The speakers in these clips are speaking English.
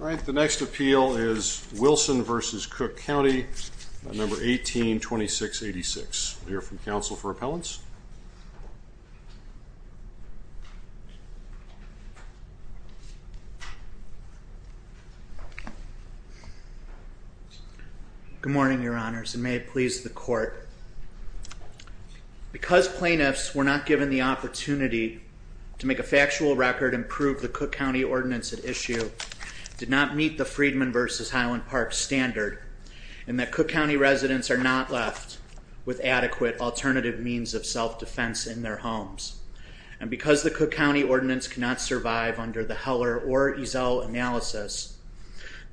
1826.86. We'll hear from counsel for appellants. Good morning, Your Honors, and may it please the court. Because plaintiffs were not given the opportunity to make a factual record and prove the Cook County Ordinance at issue did not meet the Freedman v. Highland Park standard, and that Cook County residents are not left with adequate alternative means of self-defense in their homes. And because the Cook County Ordinance cannot survive under the Heller or Ezell analysis,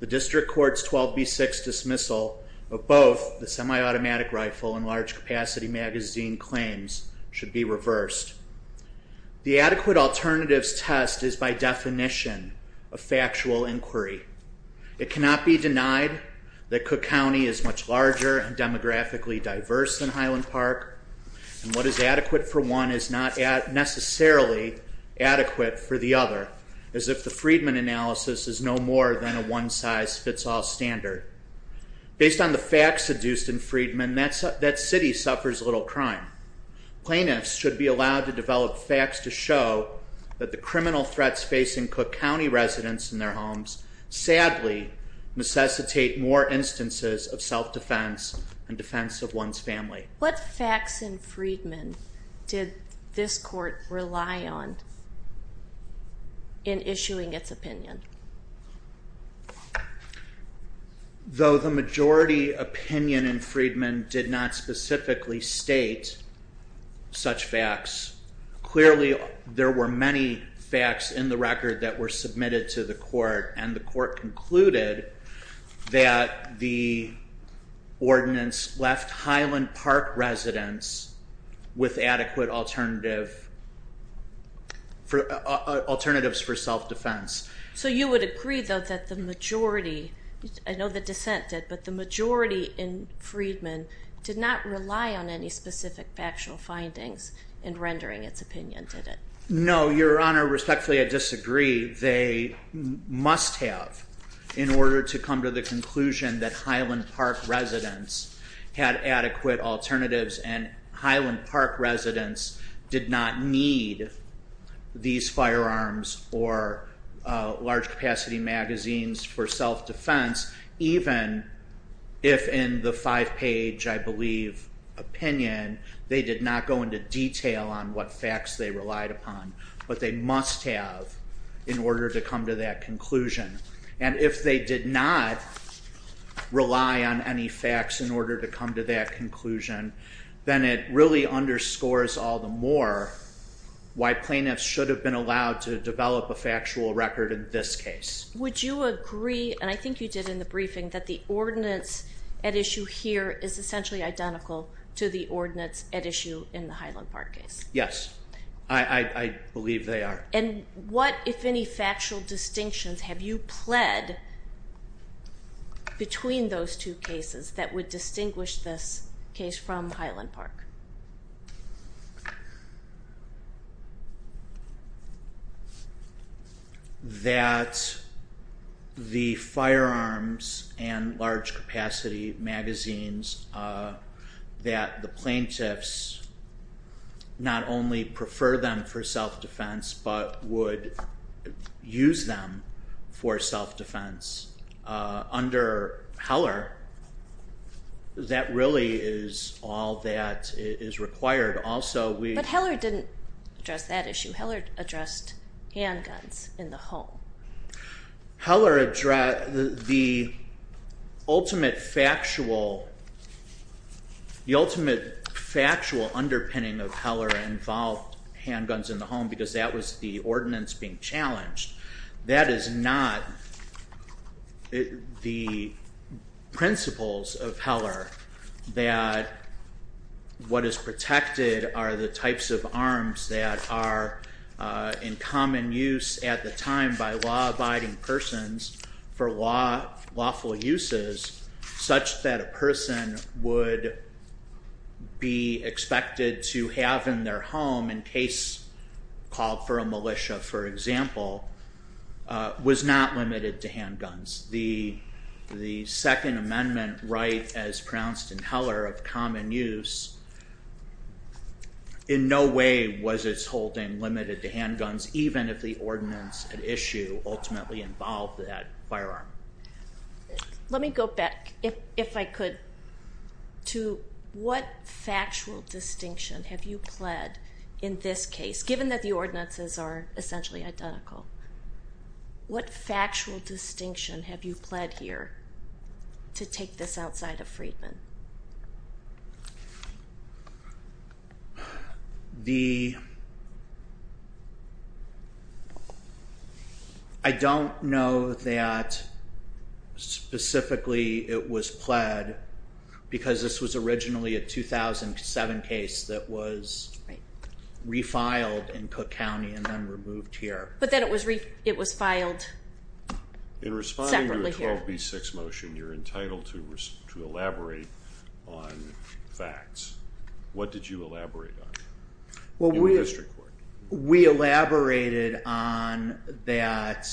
the District Court's 12B6 dismissal of both the semi-automatic rifle and large capacity magazine claims should be reversed. The adequate alternatives test is by definition a factual inquiry. It cannot be denied that Cook County is much larger and demographically diverse than Highland Park, and what is adequate for one is not necessarily adequate for the other, as if the Freedman analysis is no more than a one-size-fits-all standard. Based on the facts seduced in Freedman, that city suffers little crime. Plaintiffs should be allowed to develop facts to show that the criminal threats facing Cook County residents in their homes sadly necessitate more instances of self-defense and defense of one's family. What facts in Freedman did this court rely on in issuing its opinion? Though the majority opinion in Freedman did not specifically state such facts, clearly there were many facts in the record that were submitted to the court, and the court concluded that the ordinance left Highland Park residents with adequate alternatives for self-defense. So you would agree, though, that the majority, I know the dissent did, but the majority in Freedman did not rely on any specific factual findings in rendering its opinion, did it? No, Your Honor. Respectfully, I disagree. They must have in order to come to the conclusion that Highland Park residents had adequate alternatives and Highland Park residents did not need these firearms or large-capacity magazines for self-defense, even if in the five-page, I believe, opinion they did not go into detail on what facts they relied upon. But they must have in order to come to that conclusion. And if they did not rely on any facts in order to come to that conclusion, then it really underscores all the more why plaintiffs should have been allowed to develop a factual record in this case. Would you agree, and I think you did in the briefing, that the ordinance at issue here is essentially identical to the ordinance at issue in the Highland Park case? Yes, I believe they are. And what, if any, factual distinctions have you pled between those two cases that would distinguish this case from Highland Park? That the firearms and large-capacity magazines, that the plaintiffs not only prefer them for self-defense but would use them for self-defense. Under Heller, that really is all that is required. But Heller didn't address that issue. Heller addressed handguns in the home. The ultimate factual underpinning of Heller involved handguns in the home because that was the ordinance being challenged. That is not the principles of Heller, that what is protected are the types of arms that are in common use at the time by law-abiding persons for lawful uses, such that a person would be expected to have in their home in case called for a militia, for example, was not limited to handguns. The Second Amendment right as pronounced in Heller of common use, in no way was its holding limited to handguns, even if the ordinance at issue ultimately involved that firearm. Let me go back, if I could, to what factual distinction have you pled in this case, given that the ordinances are essentially identical? What factual distinction have you pled here to take this outside of Freedman? I don't know that specifically it was pled because this was originally a 2007 case that was refiled in Cook County and then removed here. But then it was filed separately here. In responding to a 12B6 motion, you're entitled to elaborate on facts. What did you elaborate on in the district court? We elaborated on that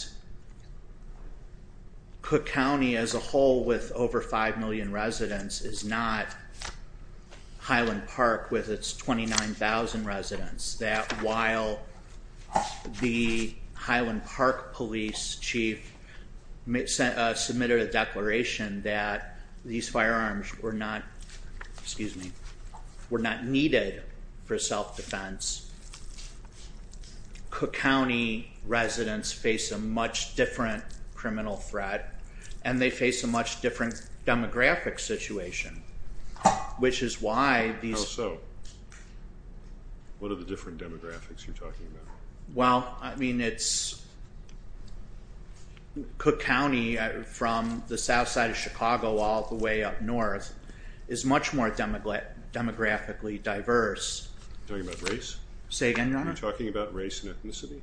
Cook County as a whole with over 5 million residents is not Highland Park with its 29,000 residents, that while the Highland Park police chief submitted a declaration that these firearms were not needed for self-defense, Cook County residents face a much different criminal threat and they face a much different demographic situation, which is why these... How so? What are the different demographics you're talking about? Well, I mean, it's Cook County from the south side of Chicago all the way up north is much more demographically diverse. Are you talking about race? Say again, Your Honor? Are you talking about race and ethnicity?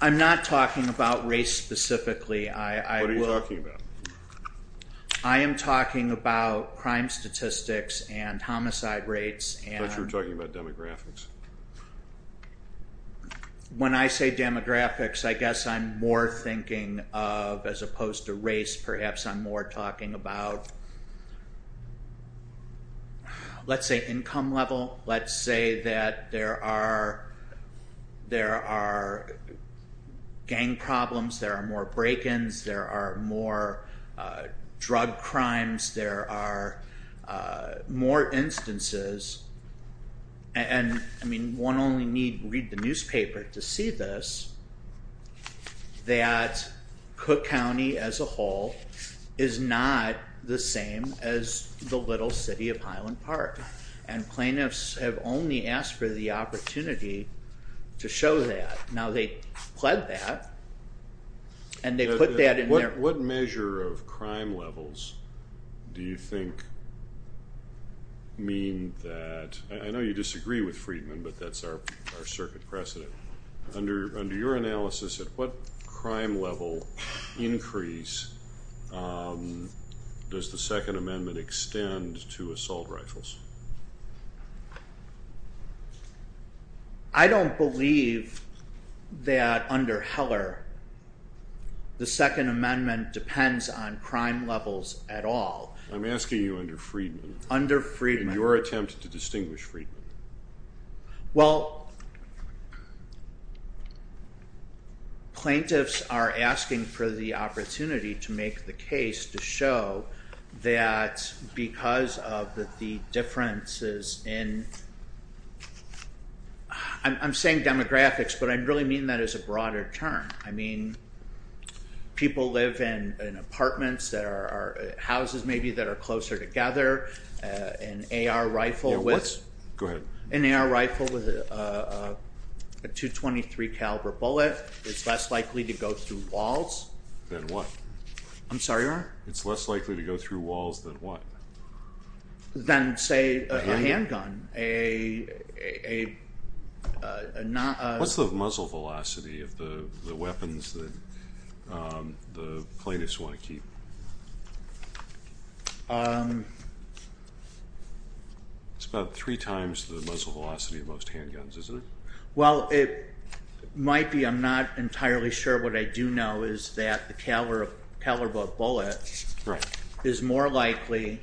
I'm not talking about race specifically. What are you talking about? I am talking about crime statistics and homicide rates and... I thought you were talking about demographics. When I say demographics, I guess I'm more thinking of, as opposed to race, perhaps I'm more talking about, let's say, income level. Let's say that there are gang problems, there are more break-ins, there are more drug crimes, there are more instances. And, I mean, one only need read the newspaper to see this, that Cook County as a whole is not the same as the little city of Highland Park. And plaintiffs have only asked for the opportunity to show that. Now, they pled that, and they put that in their... What measure of crime levels do you think mean that... I know you disagree with Friedman, but that's our circuit precedent. Under your analysis, at what crime level increase does the Second Amendment extend to assault rifles? I don't believe that under Heller, the Second Amendment depends on crime levels at all. I'm asking you under Friedman. Under Friedman. In your attempt to distinguish Friedman. Well, plaintiffs are asking for the opportunity to make the case to show that because of the differences in... I'm saying demographics, but I really mean that as a broader term. I mean, people live in apartments that are... Houses, maybe, that are closer together. An AR rifle with... Go ahead. An AR rifle with a .223 caliber bullet is less likely to go through walls. Than what? I'm sorry, Ron? It's less likely to go through walls than what? Than, say, a handgun. What's the muzzle velocity of the weapons that the plaintiffs want to keep? It's about three times the muzzle velocity of most handguns, isn't it? Well, it might be. I'm not entirely sure. What I do know is that the caliber bullet is more likely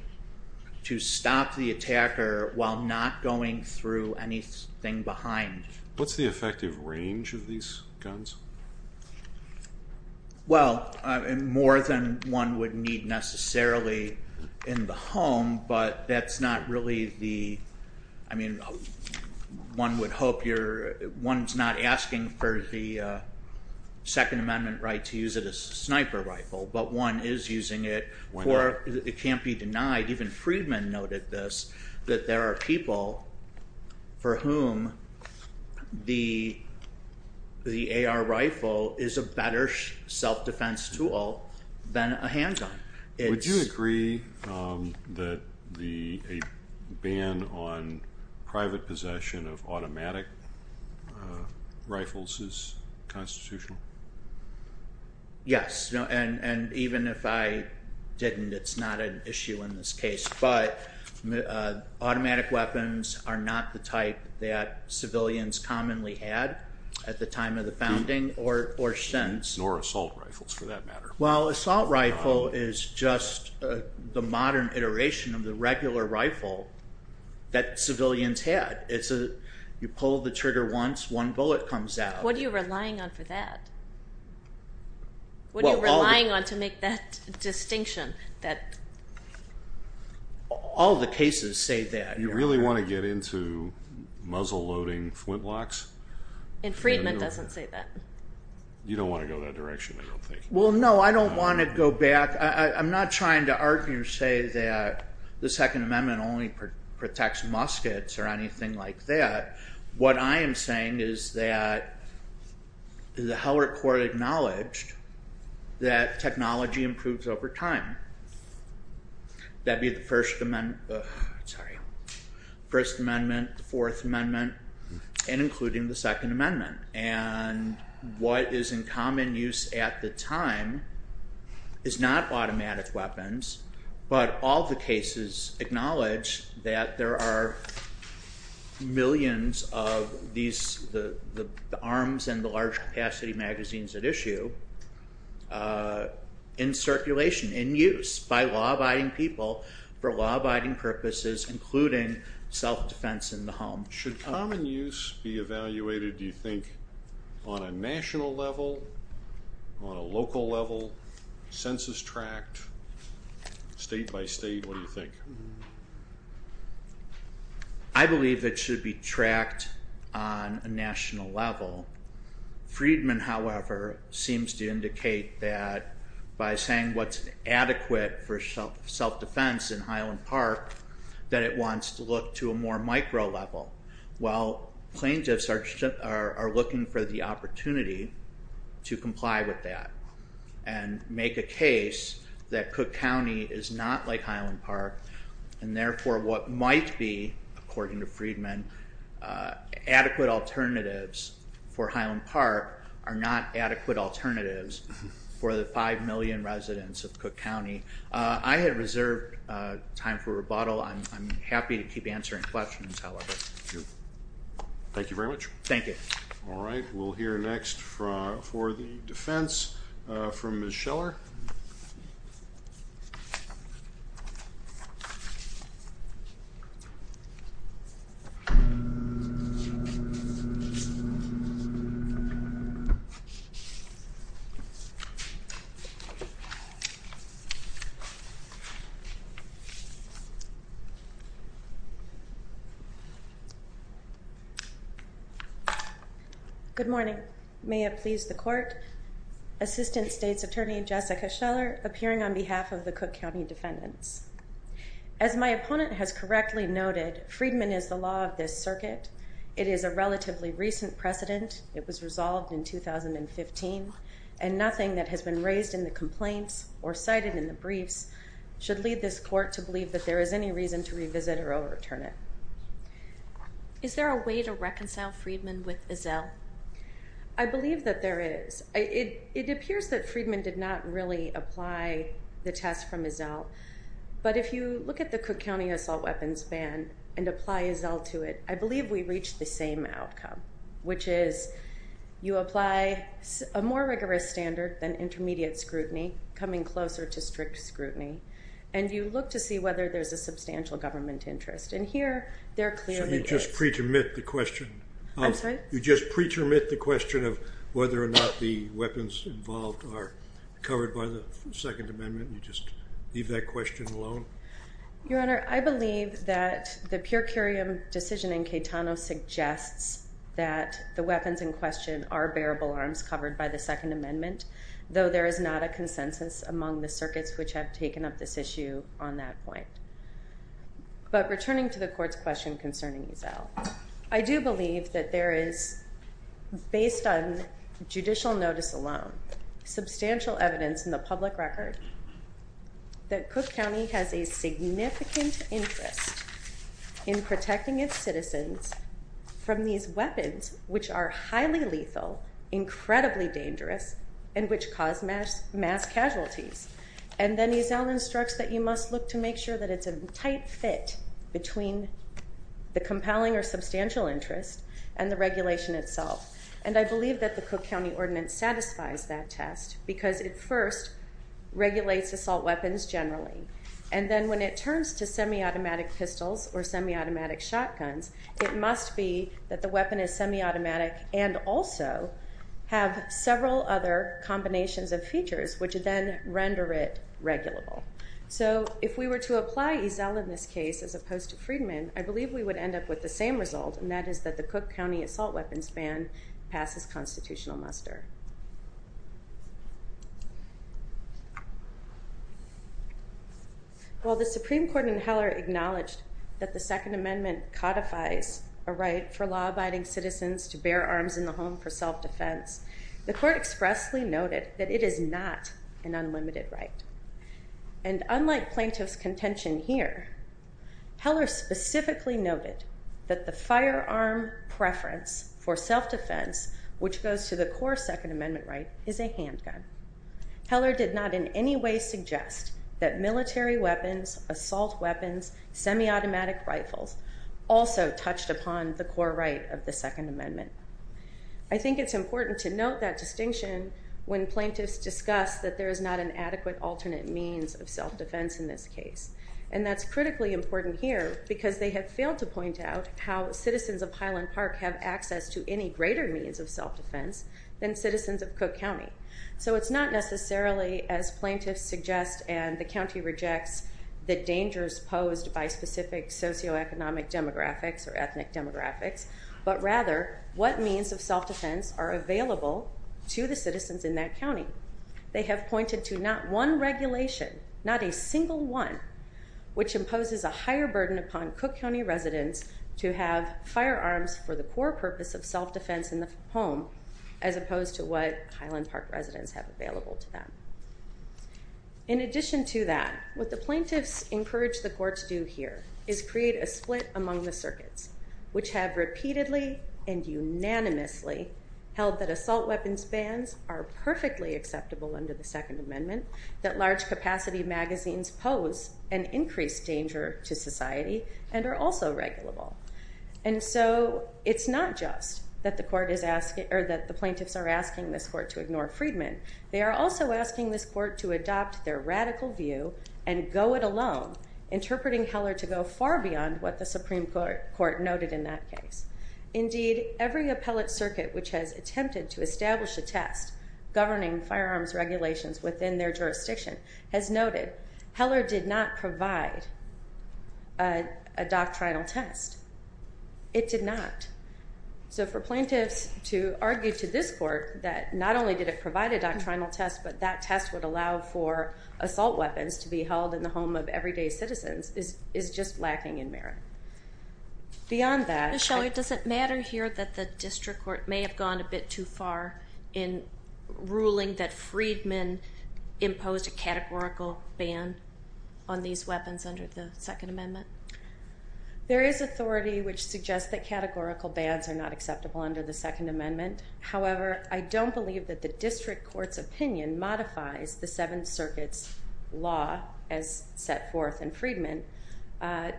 to stop the attacker while not going through anything behind. What's the effective range of these guns? Well, more than one would need necessarily in the home, but that's not really the... One would hope you're... One's not asking for the Second Amendment right to use it as a sniper rifle, but one is using it. It can't be denied. Even Friedman noted this, that there are people for whom the AR rifle is a better self-defense tool than a handgun. Would you agree that a ban on private possession of automatic rifles is constitutional? Yes, and even if I didn't, it's not an issue in this case. But automatic weapons are not the type that civilians commonly had at the time of the founding or since. Nor assault rifles, for that matter. Well, assault rifle is just the modern iteration of the regular rifle that civilians had. You pull the trigger once, one bullet comes out. What are you relying on for that? What are you relying on to make that distinction? All the cases say that. You really want to get into muzzle-loading flintlocks? And Friedman doesn't say that. You don't want to go that direction, I don't think. Well, no, I don't want to go back. I'm not trying to argue or say that the Second Amendment only protects muskets or anything like that. What I am saying is that the Heller Court acknowledged that technology improves over time. That'd be the First Amendment, the Fourth Amendment, and including the Second Amendment. What is in common use at the time is not automatic weapons, but all the cases acknowledge that there are millions of the arms and the large-capacity magazines at issue in circulation, in use, by law-abiding people for law-abiding purposes, including self-defense in the home. Should common use be evaluated, do you think, on a national level, on a local level, census-tracked, state-by-state, what do you think? I believe it should be tracked on a national level. Friedman, however, seems to indicate that by saying what's adequate for plaintiffs are looking for the opportunity to comply with that and make a case that Cook County is not like Highland Park, and therefore what might be, according to Friedman, adequate alternatives for Highland Park are not adequate alternatives for the 5 million residents of Cook County. I have reserved time for rebuttal. I'm happy to keep answering questions, however. Thank you very much. Thank you. All right. We'll hear next for the defense from Ms. Scheller. Good morning. May it please the Court, Assistant State's Attorney Jessica Scheller appearing on behalf of the Cook County defendants. As my opponent has correctly noted, Friedman is the law of this circuit. It is a relatively recent precedent. It was resolved in 2015, and nothing that has been raised in the complaints or cited in the briefs should lead this Court to believe that there is any reason to revisit or overturn it. Is there a way to reconcile Friedman with Ezell? I believe that there is. It appears that Friedman did not really apply the test from Ezell, but if you look at the Cook County assault weapons ban and apply Ezell to it, I believe we reach the same outcome, which is you apply a more rigorous standard than intermediate scrutiny, coming closer to strict scrutiny, and you look to see whether there's a substantial government interest. And here, there clearly is. So you just pre-termit the question? I'm sorry? You just pre-termit the question of whether or not the weapons involved are covered by the Second Amendment? You just leave that question alone? Your Honor, I believe that the pure curiam decision in Caetano suggests that the weapons in question are bearable arms covered by the Second Amendment, though there is not a consensus among the circuits which have taken up this issue on that point. But returning to the Court's question concerning Ezell, I do believe that there is, based on judicial notice alone, substantial evidence in the public record that Cook County has a significant interest in protecting its citizens from these weapons, which are highly lethal, incredibly dangerous, and which cause mass casualties. And then Ezell instructs that you must look to make sure that it's a tight fit between the compelling or substantial interest and the regulation itself. And I believe that the Cook County Ordinance satisfies that test because it first regulates assault weapons generally, and then when it turns to semi-automatic pistols or semi-automatic shotguns, it must be that the weapon is semi-automatic and also have several other combinations of features which then render it regulable. So if we were to apply Ezell in this case as opposed to Friedman, I believe we would end up with the same result, and that is that the Cook County assault weapons ban passes constitutional muster. While the Supreme Court in Heller acknowledged that the Second Amendment codifies a right for law-abiding citizens to bear arms in the home for self-defense, the Court expressly noted that it is not an unlimited right. And unlike Plaintiff's contention here, Heller specifically noted that the firearm preference for self-defense, which goes to the core Second Amendment right, is a handgun. Heller did not in any way suggest that military weapons, assault weapons, semi-automatic rifles also touched upon the core right of the Second Amendment. I think it's important to note that distinction when plaintiffs discuss that there is not an adequate alternate means of self-defense in this case, and that's critically important here because they have failed to point out how citizens of Highland Park have access to any greater means of self-defense than citizens of Cook County. So it's not necessarily, as plaintiffs suggest and the county rejects, the dangers posed by specific socioeconomic demographics or ethnic demographics, but rather what means of self-defense are available to the citizens in that county. They have pointed to not one regulation, not a single one, which imposes a higher burden upon Cook County residents to have firearms for the core purpose of self-defense in the home, as opposed to what Highland Park residents have available to them. In addition to that, what the plaintiffs encourage the courts do here is create a split among the circuits, which have repeatedly and unanimously held that assault weapons bans are perfectly acceptable under the Second Amendment, that large capacity magazines pose an increased danger to society and are also regulable. And so it's not just that the plaintiffs are asking this court to ignore Friedman. They are also asking this court to adopt their radical view and go it alone, interpreting Heller to go far beyond what the Supreme Court noted in that case. Indeed, every appellate circuit which has attempted to establish a test governing firearms regulations within their jurisdiction has noted Heller did not provide a doctrinal test. It did not. So for plaintiffs to argue to this court that not only did it provide a doctrinal test, but that test would allow for assault weapons to be held in the home of everyday citizens is just lacking in merit. Beyond that... Joy, does it matter here that the district court may have gone a bit too far in ruling that Friedman imposed a categorical ban on these weapons under the Second Amendment? There is authority which suggests that categorical bans are not acceptable under the Second Amendment. However, I don't believe that the district court's opinion modifies the Seventh Circuit's law as set forth in Friedman,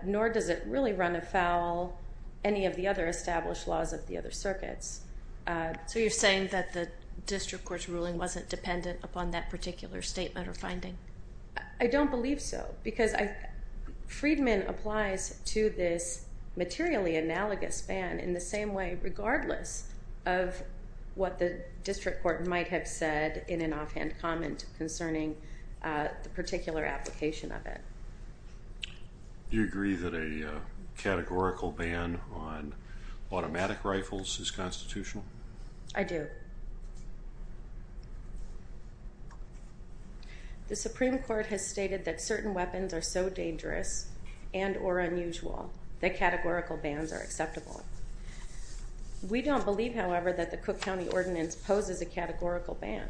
nor does it really run afoul any of the other established laws of the other circuits. So you're saying that the district court's ruling wasn't dependent upon that particular statement or finding? I don't believe so, because Friedman applies to this materially analogous ban in the same way regardless of what the district court might have said in an offhand comment concerning the particular application of it. Do you agree that a categorical ban on automatic rifles is constitutional? I do. The Supreme Court has stated that certain weapons are so dangerous and or unusual that categorical bans are acceptable. We don't believe, however, that the Cook County Ordinance poses a categorical ban.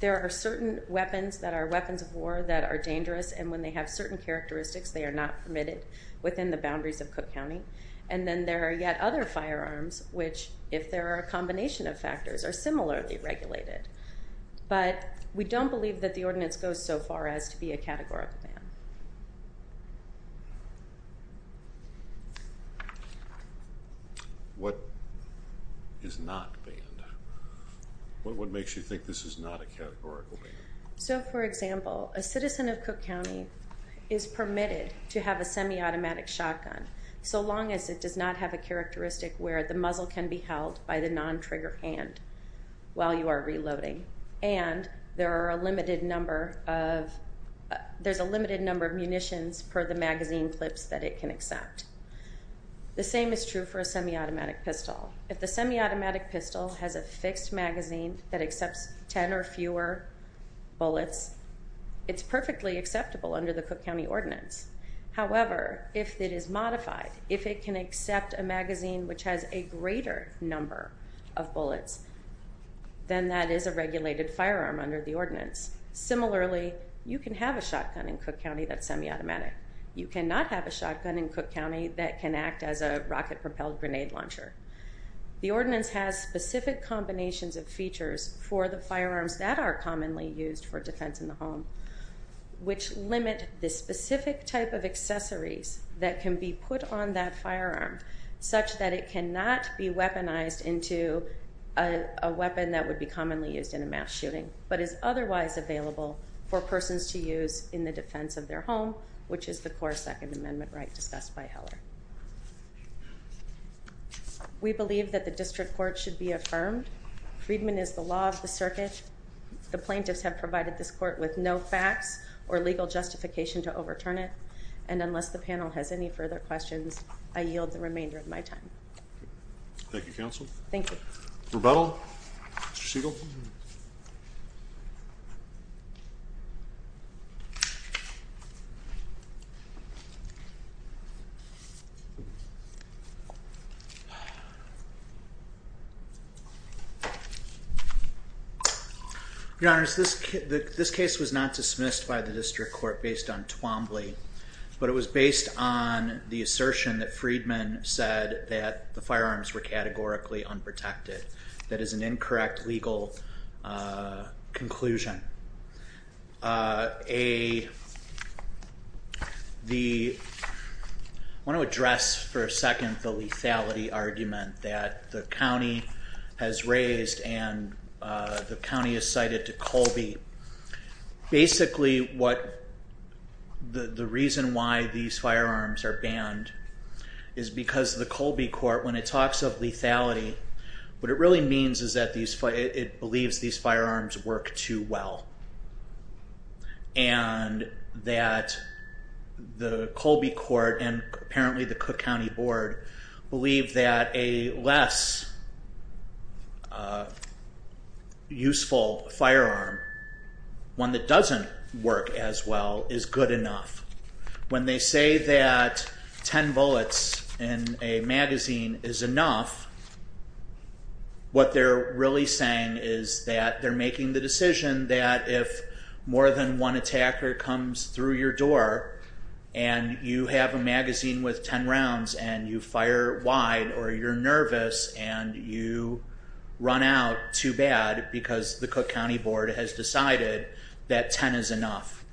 There are certain weapons that are weapons of war that are dangerous, and when they have certain characteristics, they are not permitted within the boundaries of Cook County. And then there are yet other firearms which, if there are a combination of factors, are similarly regulated. But we don't believe that the ordinance goes so far as to be a categorical ban. What is not banned? What makes you think this is not a categorical ban? So, for example, a citizen of Cook County is permitted to have a semi-automatic shotgun so long as it does not have a characteristic where the muzzle can be held by the non-trigger hand while you are reloading, and there's a limited number of munitions per the magazine clips that it can accept. The same is true for a semi-automatic pistol. If the semi-automatic pistol has a fixed magazine that accepts 10 or fewer bullets, it's perfectly acceptable under the Cook County Ordinance. However, if it is modified, if it can accept a magazine which has a greater number of bullets, then that is a regulated firearm under the ordinance. Similarly, you can have a shotgun in Cook County that's semi-automatic. You cannot have a shotgun in Cook County that can act as a rocket-propelled grenade launcher. The ordinance has specific combinations of features for the firearms that are commonly used for defense in the home which limit the specific type of accessories that can be put on that firearm such that it cannot be weaponized into a weapon that would be commonly used in a mass shooting but is otherwise available for persons to use in the defense of their home, which is the core Second Amendment right discussed by Heller. We believe that the district court should be affirmed. Freedman is the law of the circuit. The plaintiffs have provided this court with no facts or legal justification to overturn it, and unless the panel has any further questions, I yield the remainder of my time. Thank you, Counsel. Thank you. Rebuttal, Mr. Siegel? Your Honor, this case was not dismissed by the district court based on Twombly, but it was based on the assertion that Freedman said that the firearms were categorically unprotected. That is an incorrect legal conclusion. I want to address for a second the lethality argument that the county has raised and the county has cited to Colby. Basically, the reason why these firearms are banned is because the Colby court, when it talks of lethality, what it really means is that it believes these firearms work too well and that the Colby court and apparently the Cook County Board believe that a less useful firearm, one that doesn't work as well, is good enough. When they say that ten bullets in a magazine is enough, what they're really saying is that they're making the decision that if more than one attacker comes through your door and you have a magazine with ten rounds and you fire wide or you're nervous and you run out too bad because the Cook County Board has decided that ten is enough.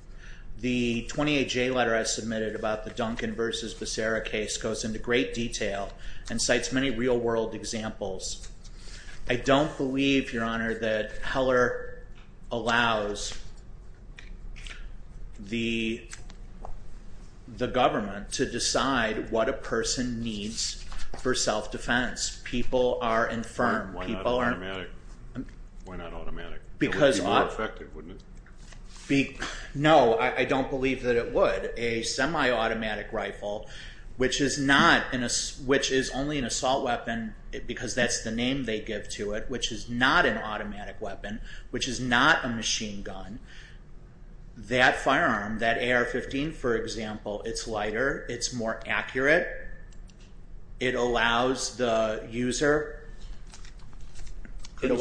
The 28-J letter I submitted about the Duncan v. Becerra case goes into great detail and cites many real-world examples. I don't believe, Your Honor, that Heller allows the government to decide what a person needs for self-defense. People are infirm. Why not automatic? It would be more effective, wouldn't it? No, I don't believe that it would. A semi-automatic rifle, which is only an assault weapon because that's the name they give to it, which is not an automatic weapon, which is not a machine gun, that firearm, that AR-15, for example, it's lighter, it's more accurate, it allows the user... Couldn't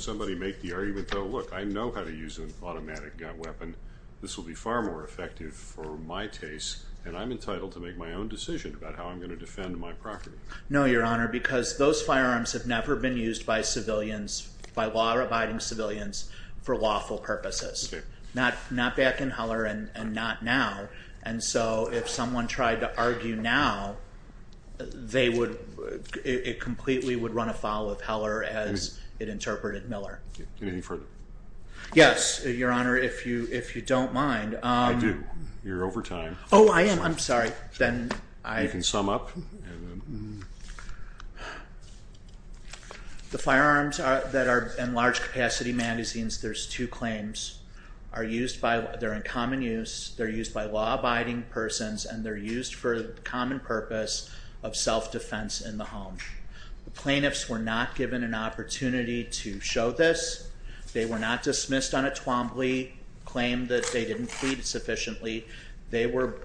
somebody make the argument, though, look, I know how to use an automatic weapon. This will be far more effective for my taste, and I'm entitled to make my own decision about how I'm going to defend my property. No, Your Honor, because those firearms have never been used by law-abiding civilians for lawful purposes, not back in Heller and not now. And so if someone tried to argue now, it completely would run afoul of Heller as it interpreted Miller. Anything further? Yes, Your Honor, if you don't mind. I do. You're over time. Oh, I am. I'm sorry. You can sum up. The firearms that are in large-capacity magazines, there's two claims, they're in common use, they're used by law-abiding persons, and they're used for the common purpose of self-defense in the home. The plaintiffs were not given an opportunity to show this. They were not dismissed on a Twombly, claimed that they didn't plead sufficiently. They were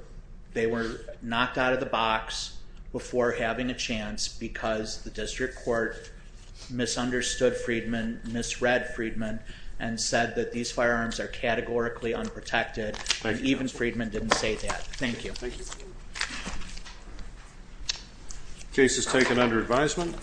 knocked out of the box before having a chance because the district court misunderstood Freedman, misread Freedman, and said that these firearms are categorically unprotected, and even Freedman didn't say that. Thank you. The case is taken under advisement.